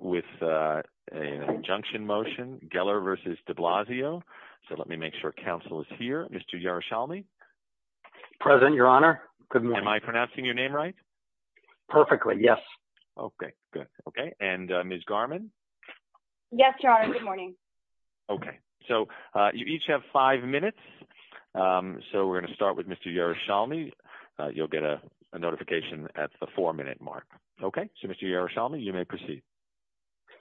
with an injunction motion, Geller versus de Blasio. So let me make sure council is here. Mr. Yaroshalmi. Present, your honor. Good morning. Am I pronouncing your name right? Perfectly, yes. Okay, good. Okay. And Ms. Garman? Yes, your honor. Good morning. Okay. So you each have five minutes. So we're going to start with Mr. Yaroshalmi. You'll get a notification at the four minute mark. Okay. So Mr. Yaroshalmi, you may proceed.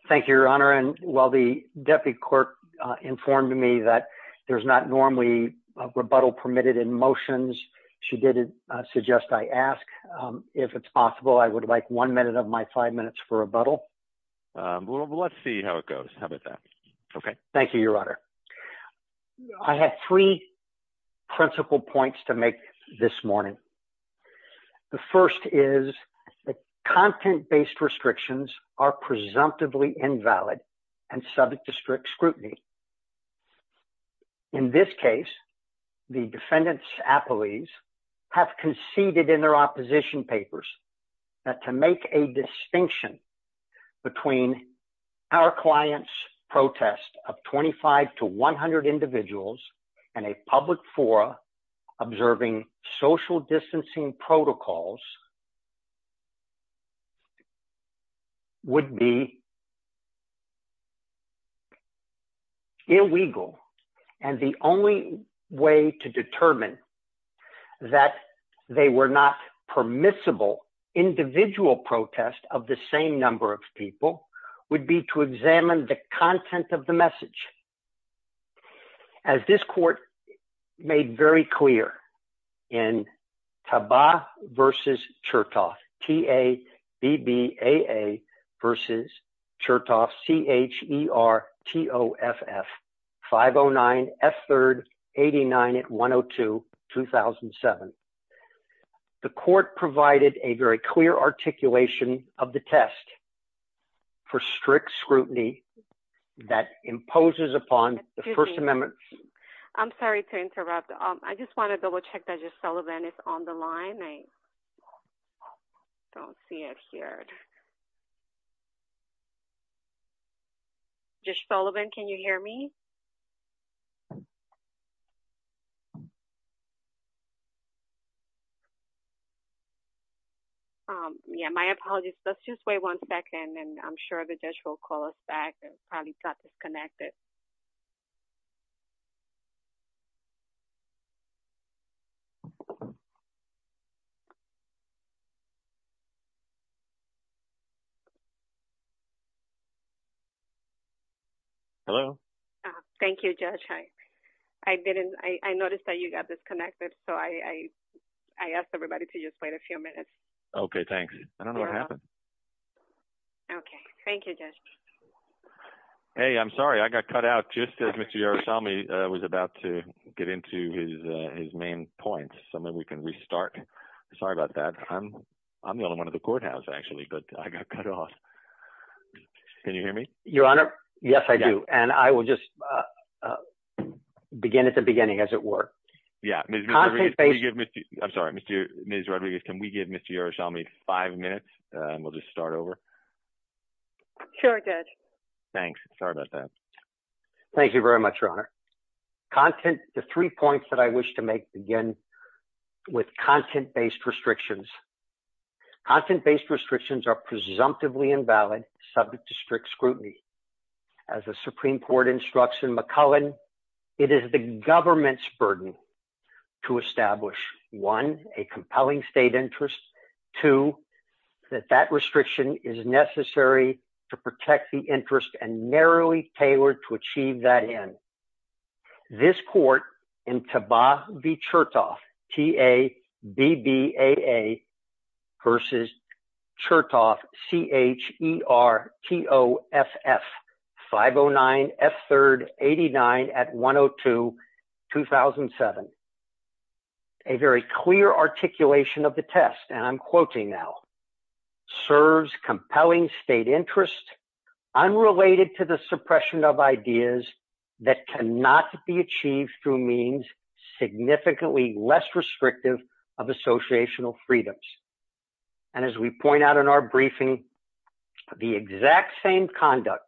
Thank you, your honor. And while the deputy clerk informed me that there's not normally a rebuttal permitted in motions, she did suggest I ask, if it's possible, I would like one minute of my five minutes for rebuttal. Well, let's see how it goes. How about that? Okay. Thank you, your honor. I have three principal points to make this morning. The first is that content-based restrictions are presumptively invalid and subject to strict scrutiny. In this case, the defendant's appellees have conceded in their opposition papers that to make a distinction between our client's protest of 25 to 100 individuals and a public forum observing social distancing protocols would be illegal. And the only way to determine that they were not permissible individual protest of the same number of people would be to examine the content of the message. As this court made very clear in Taba versus Chertoff, T-A-B-B-A-A versus Chertoff, C-H-E-R-T-O-F-F, 509 F3rd 89 at 102, 2007. The court provided a very clear articulation of the test for strict scrutiny that imposes upon the First Amendment. I'm sorry to interrupt. I just want to double-check that Judge Sullivan is on the line. I don't see it here. Judge Sullivan, can you hear me? Yeah, my apologies. Let's just wait one second, and I'm sure the judge will call us back. It probably got disconnected. Hello. Thank you, Judge. I noticed that you got disconnected. So I asked everybody to just wait a few minutes. Okay, thanks. I don't know what happened. Okay. Thank you, Judge. Hey, I'm sorry. I got cut out just as Mr. Yerushalmi was about to get into his main point. So maybe we can restart. Sorry about that. I'm the only one of the courthouse actually, but I got cut off. Can you hear me? Your Honor? Yes, I do. And I will just begin at the beginning as it were. Yeah. I'm sorry, Ms. Rodriguez. Can we give Mr. Yerushalmi five minutes, and we'll just start over? Sure, Judge. Thanks. Sorry about that. Thank you very much, Your Honor. The three points that I wish to make begin with content-based restrictions. Content-based restrictions are presumptively invalid, subject to strict scrutiny. To establish, one, a compelling state interest. Two, that that restriction is necessary to protect the interest and narrowly tailored to achieve that end. This court in Taba B. Chertoff, T-A-B-B-A-A, versus Chertoff, C-H-E-R-T-O-F-F, 509 F. A very clear articulation of the test, and I'm quoting now, serves compelling state interest, unrelated to the suppression of ideas that cannot be achieved through means significantly less restrictive of associational freedoms. And as we point out in our briefing, the exact same conduct,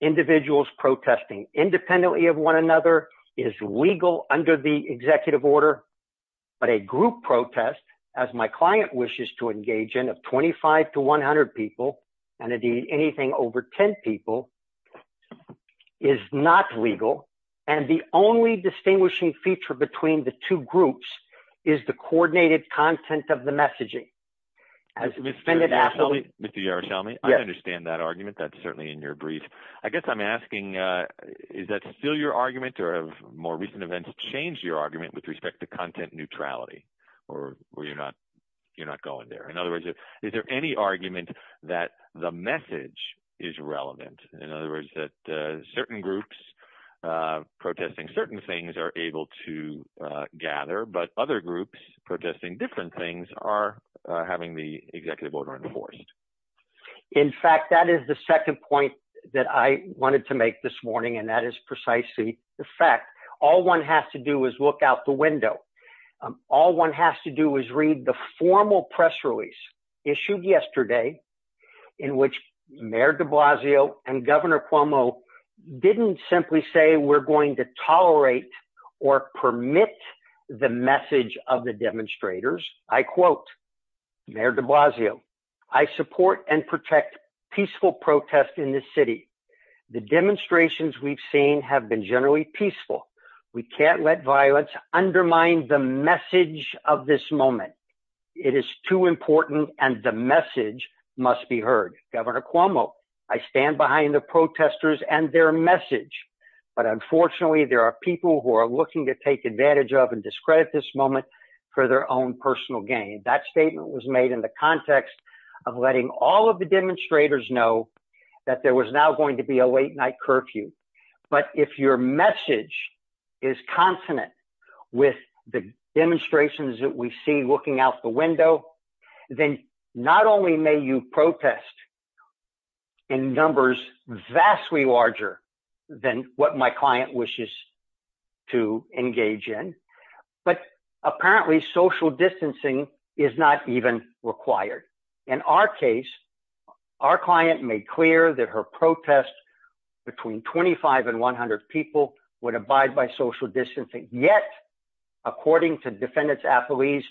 individuals protesting independently of one another, is legal under the executive order. But a group protest, as my client wishes to engage in, of 25 to 100 people, and indeed anything over 10 people, is not legal. And the only distinguishing feature between the two groups is the coordinated content of the messaging. Mr. Yaroshelmy, I understand that argument. That's certainly in your brief. I guess I'm asking, is that still your argument, or have more recent events changed your argument with respect to content neutrality, or you're not going there? In other words, is there any argument that the message is relevant? In other words, that certain groups protesting certain things are able to gather, but other groups protesting different things are having the executive order enforced. In fact, that is the second point that I wanted to make this morning, and that is precisely the fact. All one has to do is look out the window. All one has to do is read the formal press release issued yesterday, in which Mayor de Blasio and Governor Cuomo didn't simply say we're going to tolerate or permit the message of the demonstrators. I quote Mayor de Blasio, I support and protect peaceful protest in this city. The demonstrations we've seen have been generally peaceful. We can't let violence undermine the message of this moment. It is too important and the message must be heard. Governor Cuomo, I stand behind the protesters and their message, but unfortunately, there are people who are looking to take advantage of and discredit this moment for their own personal gain. That statement was made in the context of letting all of the demonstrators know that there was now going to be a late-night curfew. But if your message is consonant with the demonstrations that we see looking out the window, then not only may you protest in numbers vastly larger than what my apparently social distancing is not even required. In our case, our client made clear that her protest between 25 and 100 people would abide by social distancing. Yet, according to defendants' affilies,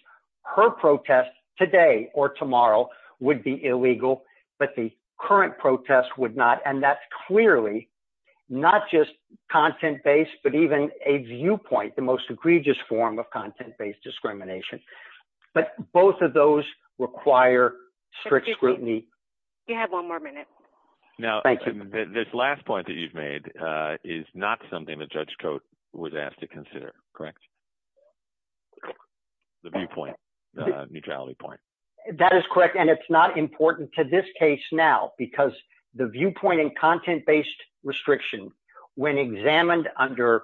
her protest today or tomorrow would be illegal, but the current protest would not. And that's clearly not just content-based, but even a viewpoint, the most egregious form of content-based discrimination. But both of those require strict scrutiny. You have one more minute. Now, this last point that you've made is not something that Judge Cote was asked to consider, correct? The viewpoint, neutrality point. That is correct. And it's not important to this case now because the viewpoint and content-based restriction, when examined under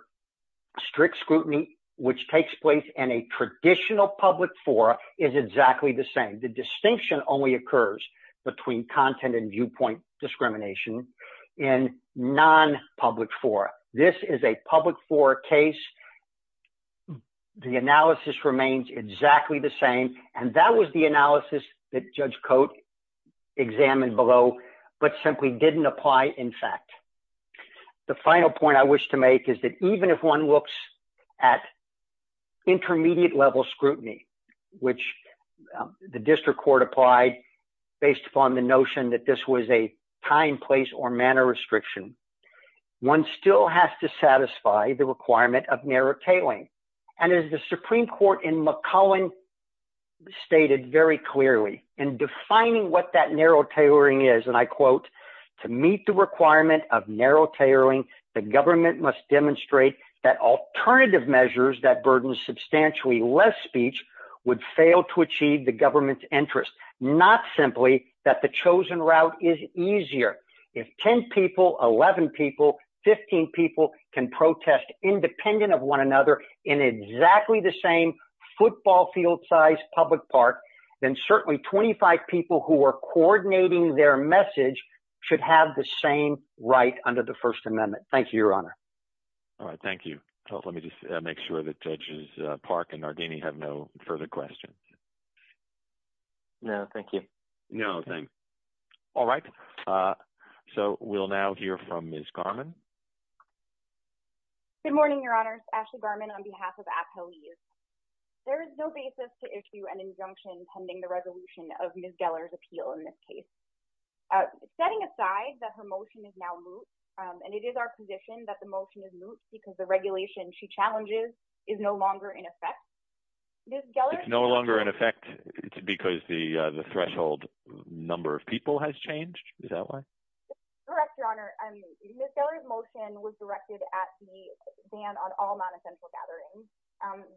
strict scrutiny, which takes place in a traditional public forum, is exactly the same. The distinction only occurs between content and viewpoint discrimination in non-public forum. This is a public forum case. The analysis remains exactly the same, and that was the analysis that Judge Cote examined below, but simply didn't apply in fact. The final point I wish to make is that even if one looks at intermediate level scrutiny, which the district court applied based upon the notion that this was a time, place, or manner restriction, one still has to satisfy the requirement of narrow tailoring. And as the Supreme Court in McClellan stated very clearly in defining what that narrow tailoring, the government must demonstrate that alternative measures that burden substantially less speech would fail to achieve the government's interest, not simply that the chosen route is easier. If 10 people, 11 people, 15 people can protest independent of one another in exactly the same football field size public park, then certainly 25 people who are coordinating their message should have the same right under the First Amendment. Thank you, Your Honor. All right. Thank you. Let me just make sure that Judges Park and Nardini have no further questions. No, thank you. No, thanks. All right. So we'll now hear from Ms. Garman. Good morning, Your Honor. Ashley Garman on behalf of AFL-E. There is no basis to issue an injunction pending the resolution of Ms. Gellar's motion is still in this case. Setting aside that her motion is now moot, and it is our position that the motion is moot because the regulation she challenges is no longer in effect. Ms. Gellar's... It's no longer in effect because the threshold number of people has changed. Is that why? Correct, Your Honor. Ms. Gellar's motion is still in effect. It's been replaced by a 10-person limit on all non-essential gatherings.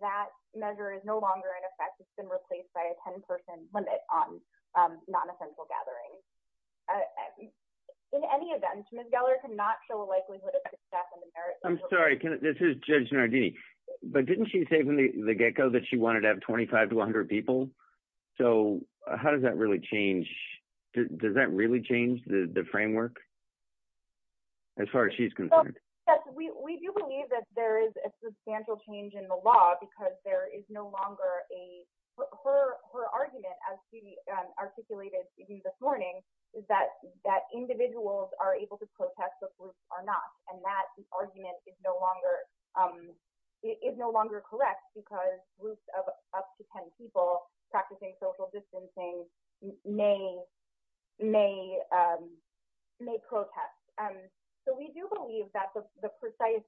That measure is no longer in effect. It's been replaced by a 10-person limit on non-essential gatherings. In any event, Ms. Gellar cannot show a likelihood of success in the merits... I'm sorry, this is Judge Nardini. But didn't she say from the get-go that she wanted to have 25 to 100 people? So, how does that really change? Does that really change the framework? As far as she's concerned? Yes, we do believe that there is a substantial change in the law because there is no longer a... Her argument, as she articulated to you this morning, is that individuals are able to protest but groups are not, and that argument is no longer correct because groups of up to 10 people practicing social distancing may protest. So, we do believe that the precise...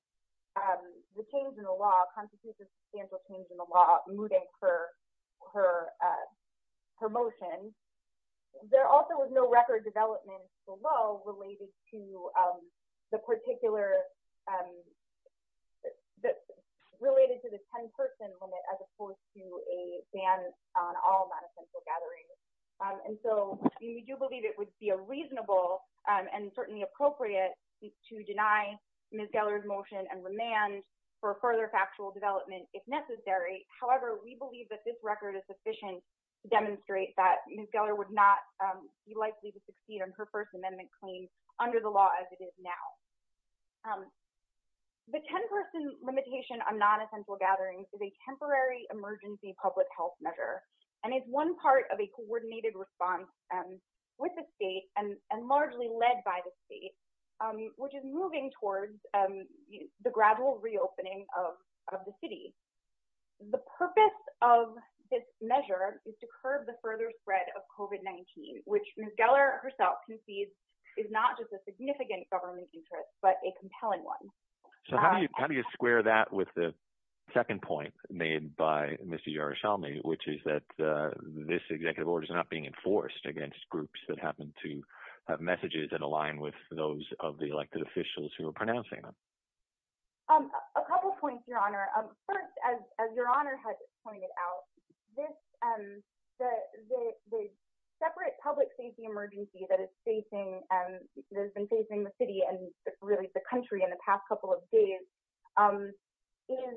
The change in the law constitutes a substantial change in the law mooting her motion. There also was no record development below related to the particular... Related to the 10-person limit as opposed to a ban on all non-essential gatherings. And so, we do believe it would be a reasonable and certainly appropriate to deny Ms. Geller's motion and remand for further factual development if necessary. However, we believe that this record is sufficient to demonstrate that Ms. Geller would not be likely to succeed on her First Amendment claim under the law as it is now. The 10-person limitation on non-essential gatherings is a temporary emergency public health measure and is one part of a coordinated response with the state and largely led by the state, which is moving towards the gradual reopening of the city. The purpose of this measure is to curb the further spread of COVID-19, which Ms. Geller herself concedes is not just a significant government interest, but a compelling one. So, how do you square that with the second point made by Mr. O'Shaughnessy, which is that this executive order is not being enforced against groups that happen to have messages that align with those of the elected officials who are pronouncing them? A couple points, Your Honor. First, as Your Honor has pointed out, the separate public safety emergency that has been facing the city and really the country in the past couple of days is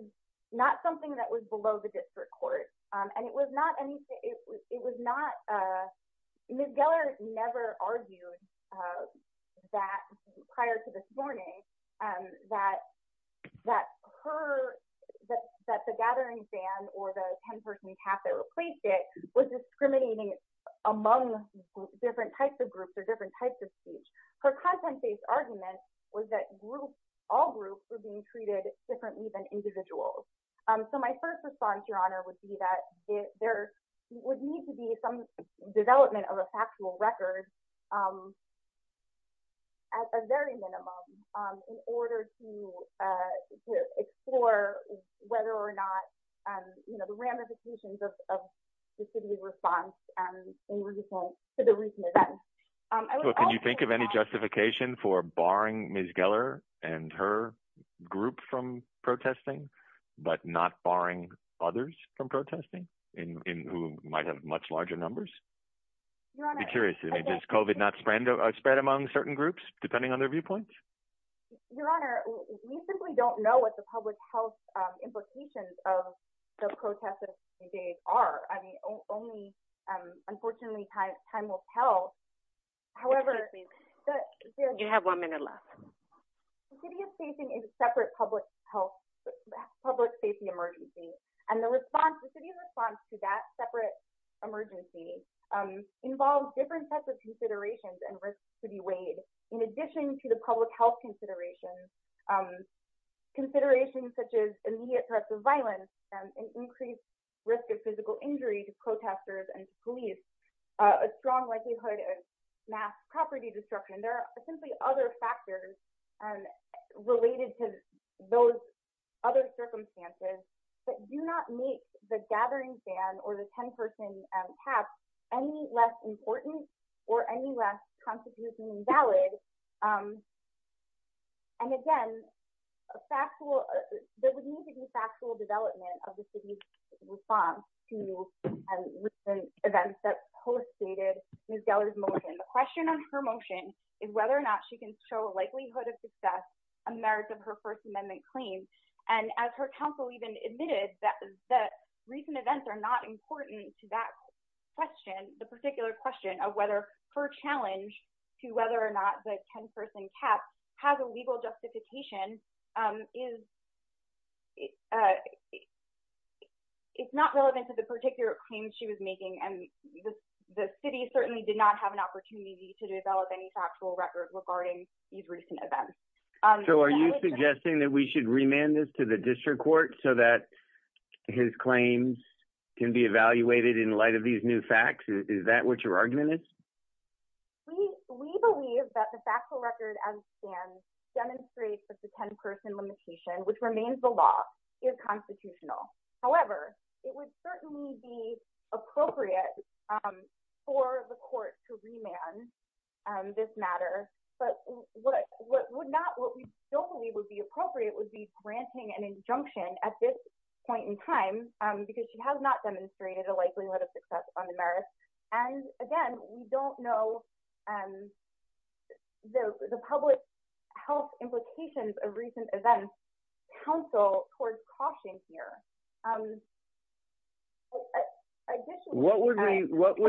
not something that was below the district court, and it was not anything, it was not, Ms. Geller never argued that prior to this morning, that her, that the gathering ban or the 10-person cap that replaced it was discriminating among different types of groups or different types of speech. Her content-based argument was that all groups were being treated differently than individuals. So, my first response, Your Honor, would be that there would need to be some development of a factual record, at a very minimum, in order to explore whether or not, you know, the ramifications of the city's response to the recent events. Can you think of any justification for barring Ms. Geller and her group from protesting? But not barring others from protesting, who might have much larger numbers? I'd be curious, does COVID not spread among certain groups, depending on their viewpoints? Your Honor, we simply don't know what the public health implications of the protests of today are. I mean, only, unfortunately, time will tell. However, the city is facing a separate public health emergency, and the city's response to that separate emergency involves different types of considerations and risks to be weighed. In addition to the public health considerations, considerations such as immediate threats of violence, an increased risk of physical injury to protesters and police, a strong likelihood of mass property destruction. There are simply other factors related to those other circumstances that do not make the gathering ban or the 10-person cap any less important or any less constitutionally valid. And again, there would need to be factual development of the city's response to recent events that postdated Ms. Geller's motion. The question on her motion is whether or not she can show a likelihood of success, a merit of her First Amendment claim. And as her counsel even admitted that the recent events are not important to that question, the particular question of whether her challenge to whether or not the 10-person cap has a legal justification is not relevant to the particular claim she was making. And the city certainly did not have an opportunity to develop any factual record regarding these recent events. So are you suggesting that we should remand this to the district court so that his claims can be evaluated in light of these new facts? Is that what your argument is? We believe that the factual record as it stands demonstrates that the 10-person limitation, which remains the law, is constitutional. However, it would certainly be appropriate for the court to remand this matter. But what we don't believe would be appropriate would be granting an injunction at this point in time because she has not demonstrated a likelihood of success on the merits. And again, we don't know the public health implications of recent events' counsel towards caution here. What would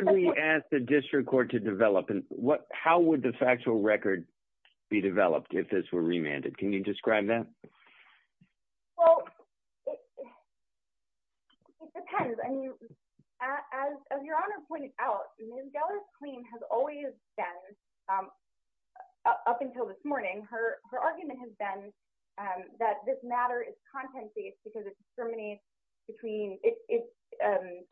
we ask the district court to develop and how would the factual record be developed if this were remanded? Can you describe that? Well, it depends. I mean, as your Honor pointed out, Ms. Geller's claim has always been, up until this morning, her argument has been that this matter is content-based because it discriminates between, it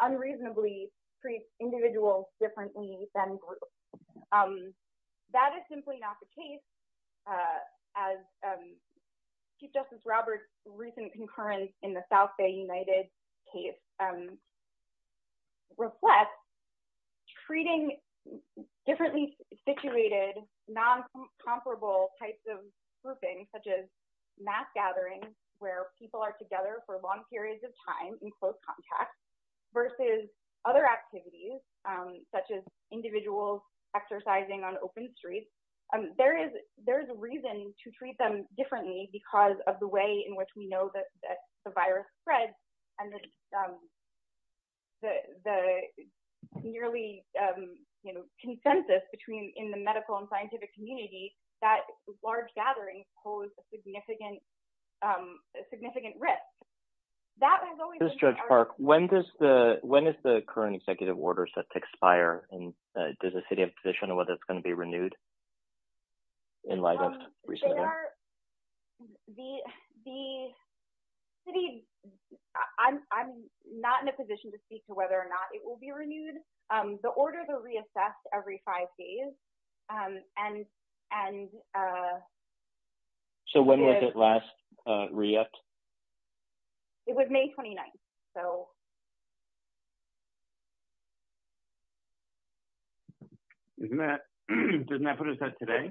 unreasonably treats individuals differently than groups. That is simply not the case as Chief Justice Roberts' recent concurrence in the South Bay United case reflects treating differently situated, non-comparable types of grouping, such as mass gatherings where people are together for long periods of time in close contact versus other activities, such as individuals exercising on open streets. There is a reason to treat them differently because of the way in which we know that the virus spreads and the nearly consensus between, in the medical and scientific community, that large gatherings pose a significant risk. That has always been the argument. Ms. Judge Park, when is the current executive order set to expire and does the city have a position on whether it's going to be renewed in light of recent events? The city, I'm not in a position to speak to whether or not it will be renewed. The orders are reassessed every five days. So when was it last re-upped? It was May 29th. Isn't that, isn't that what it said today?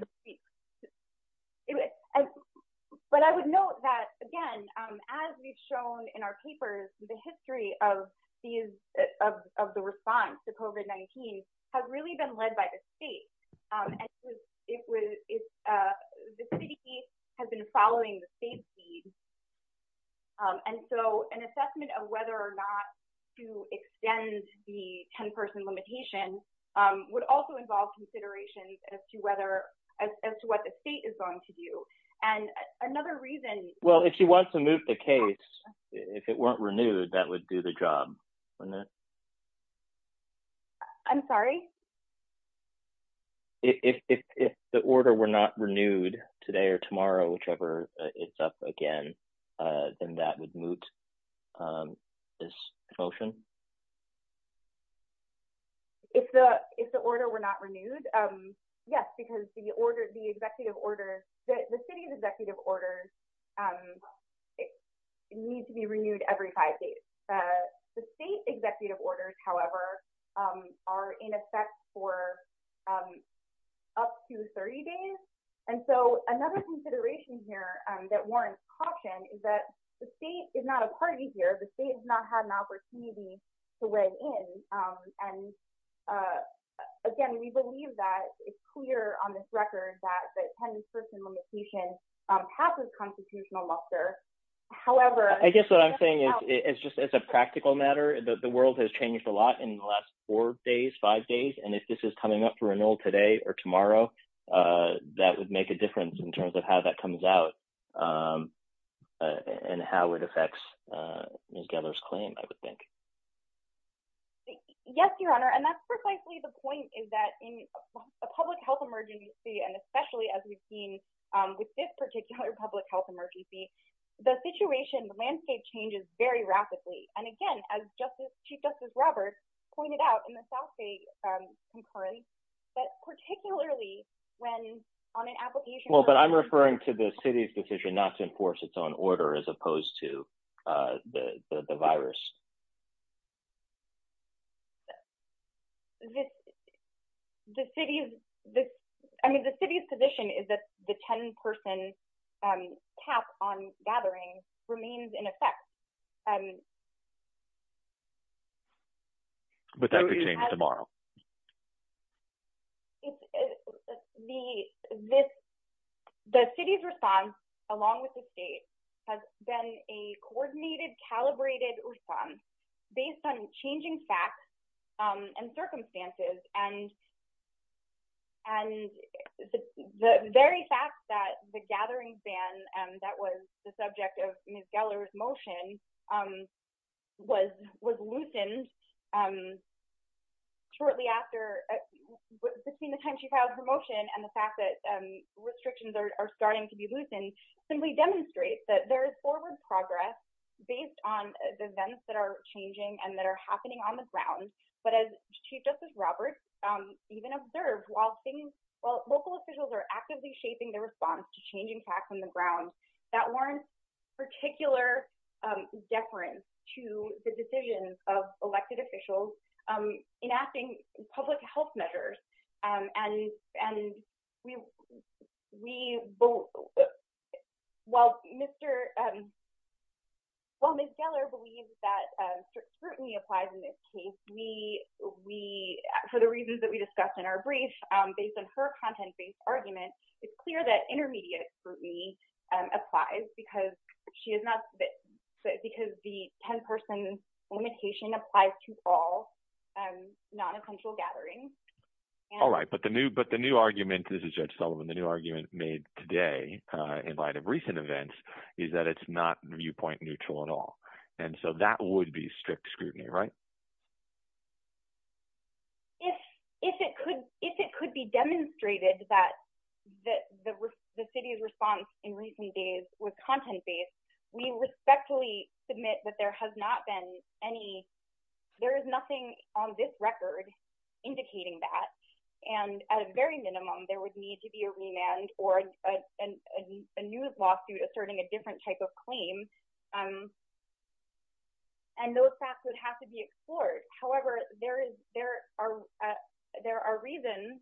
But I would note that, again, as we've shown in our papers, the history of the response to COVID-19 has really been led by the state. The city has been following the state's lead. And so an assessment of whether or not to extend the 10-person limitation would also involve consideration as to whether, as to what the state is going to do. And another reason... Well, if she wants to move the case, if it weren't renewed, that would do the job, wouldn't it? I'm sorry? If the order were not renewed today or tomorrow, whichever is up again, then that would moot this motion. If the order were not renewed, yes, because the city's executive orders need to be renewed every five days. The state executive orders, however, are in effect for up to 30 days. And so another consideration here that warrants caution is that the state is not a party here. The state has not had an opportunity to weigh in. And again, we believe that it's clear on this record that the 10-person limitation passes constitutional muster. However... I guess what I'm saying is just as a practical matter, the world has changed a lot in the last four days, five days. And if this is coming up through a rule today or tomorrow, that would make a difference in terms of how that comes out and how it affects Ms. Geller's claim, I would think. Yes, Your Honor. And that's precisely the point is that in a public health emergency and especially as we've seen with this particular public health emergency, the situation, the landscape changes very rapidly. And again, as Chief Justice Roberts pointed out in the South State concurrence, that particularly when on an application... Well, but I'm referring to the city's decision not to enforce its own order as opposed to the virus. The city's position is that the 10-person cap on gathering remains in effect. But that could change tomorrow. The city's response along with the state has been a coordinated, calibrated response based on changing facts and circumstances and the very fact that the gathering ban that was the subject of Ms. Geller's motion was loosened shortly after, between the time she filed her motion and the fact that restrictions are starting to be loosened simply demonstrates that there is forward progress based on the events that are changing and that are happening on the ground. But as Chief Justice Roberts even observed, while local officials are actively shaping their response to changing facts on the ground, that warrants particular deference to the decisions of elected officials enacting public health measures. While Ms. Geller believes that scrutiny applies in this case, for the reasons that we discussed in our brief, based on her content-based argument, it's clear that intermediate scrutiny applies because the 10-person limitation applies to all non- in control gatherings. All right, but the new argument, this is Judge Sullivan, the new argument made today in light of recent events is that it's not viewpoint neutral at all. And so that would be strict scrutiny, right? If it could be demonstrated that the city's response in recent days was content-based, we respectfully submit that there has not been any, there is nothing on this record indicating that, and at a very minimum, there would need to be a remand or a news lawsuit asserting a different type of claim. And those facts would have to be explored. However, there are reasons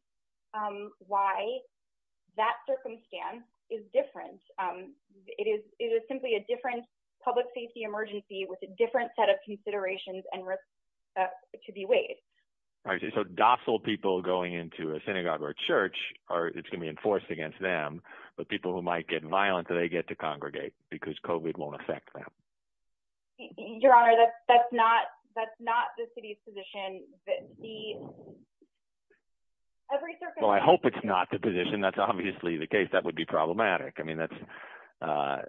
why that circumstance is different. It is simply a different public safety emergency with a different set of considerations and risks to be weighed. So docile people going into a synagogue or church, it's going to be enforced against them, but people who might get violent, they get to congregate because COVID won't affect them. Your Honor, that's not the city's position. Well, I hope it's not the position. That's obviously the case. That would be problematic. I mean, that's,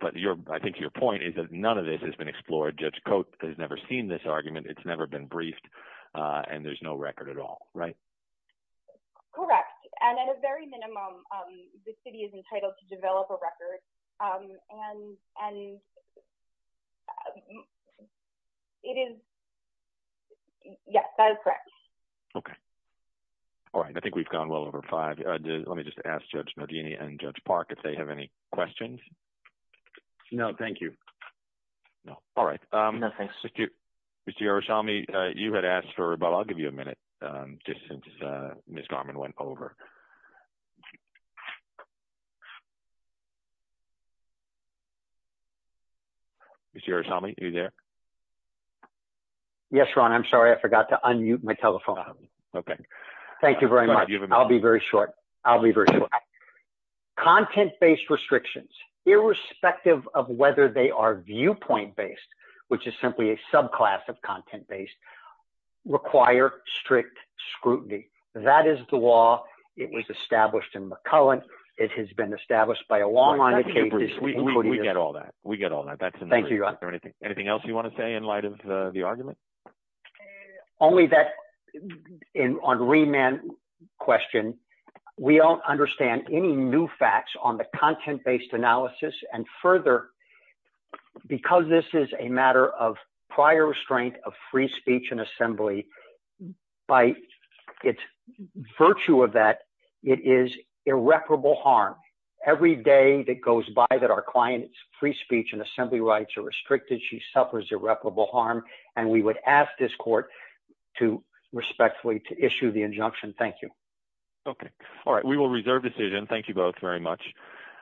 but I think your point is that none of this has been explored. Judge Cote has never seen this argument. It's never been briefed and there's no record at all, right? Correct, and at a very minimum, the city is entitled to develop a record and it is, yes, that is correct. Okay. All right. I think we've gone well over five. Let me just ask Judge Modini and Judge Park if they have any questions. No, thank you. No. All right. No, thanks. Mr. Hiroshima, you had asked for, but I'll give you a minute just since Ms. Garman went over. Mr. Hiroshima, are you there? Yes, Ron. I'm sorry. I forgot to unmute my telephone. Okay. Thank you very much. I'll be very short. I'll be very short. Content-based restrictions, irrespective of whether they are viewpoint-based, which is simply a subclass of content-based, require strict scrutiny. That is the law. It was established in McCullen. It has been established by a law firm. We get all that. We get all that. Thank you. Anything else you want to say in light of the argument? Only that on remand question, we don't understand any new facts on the content-based analysis. And further, because this is a matter of prior restraint of free speech and assembly, by its virtue of that, it is irreparable harm. Every day that goes by that our clients' free speech and assembly rights are restricted, she suffers irreparable harm. And we would ask this court to respectfully issue the injunction. Thank you. Okay. All right. We will reserve decision. Thank you both very much.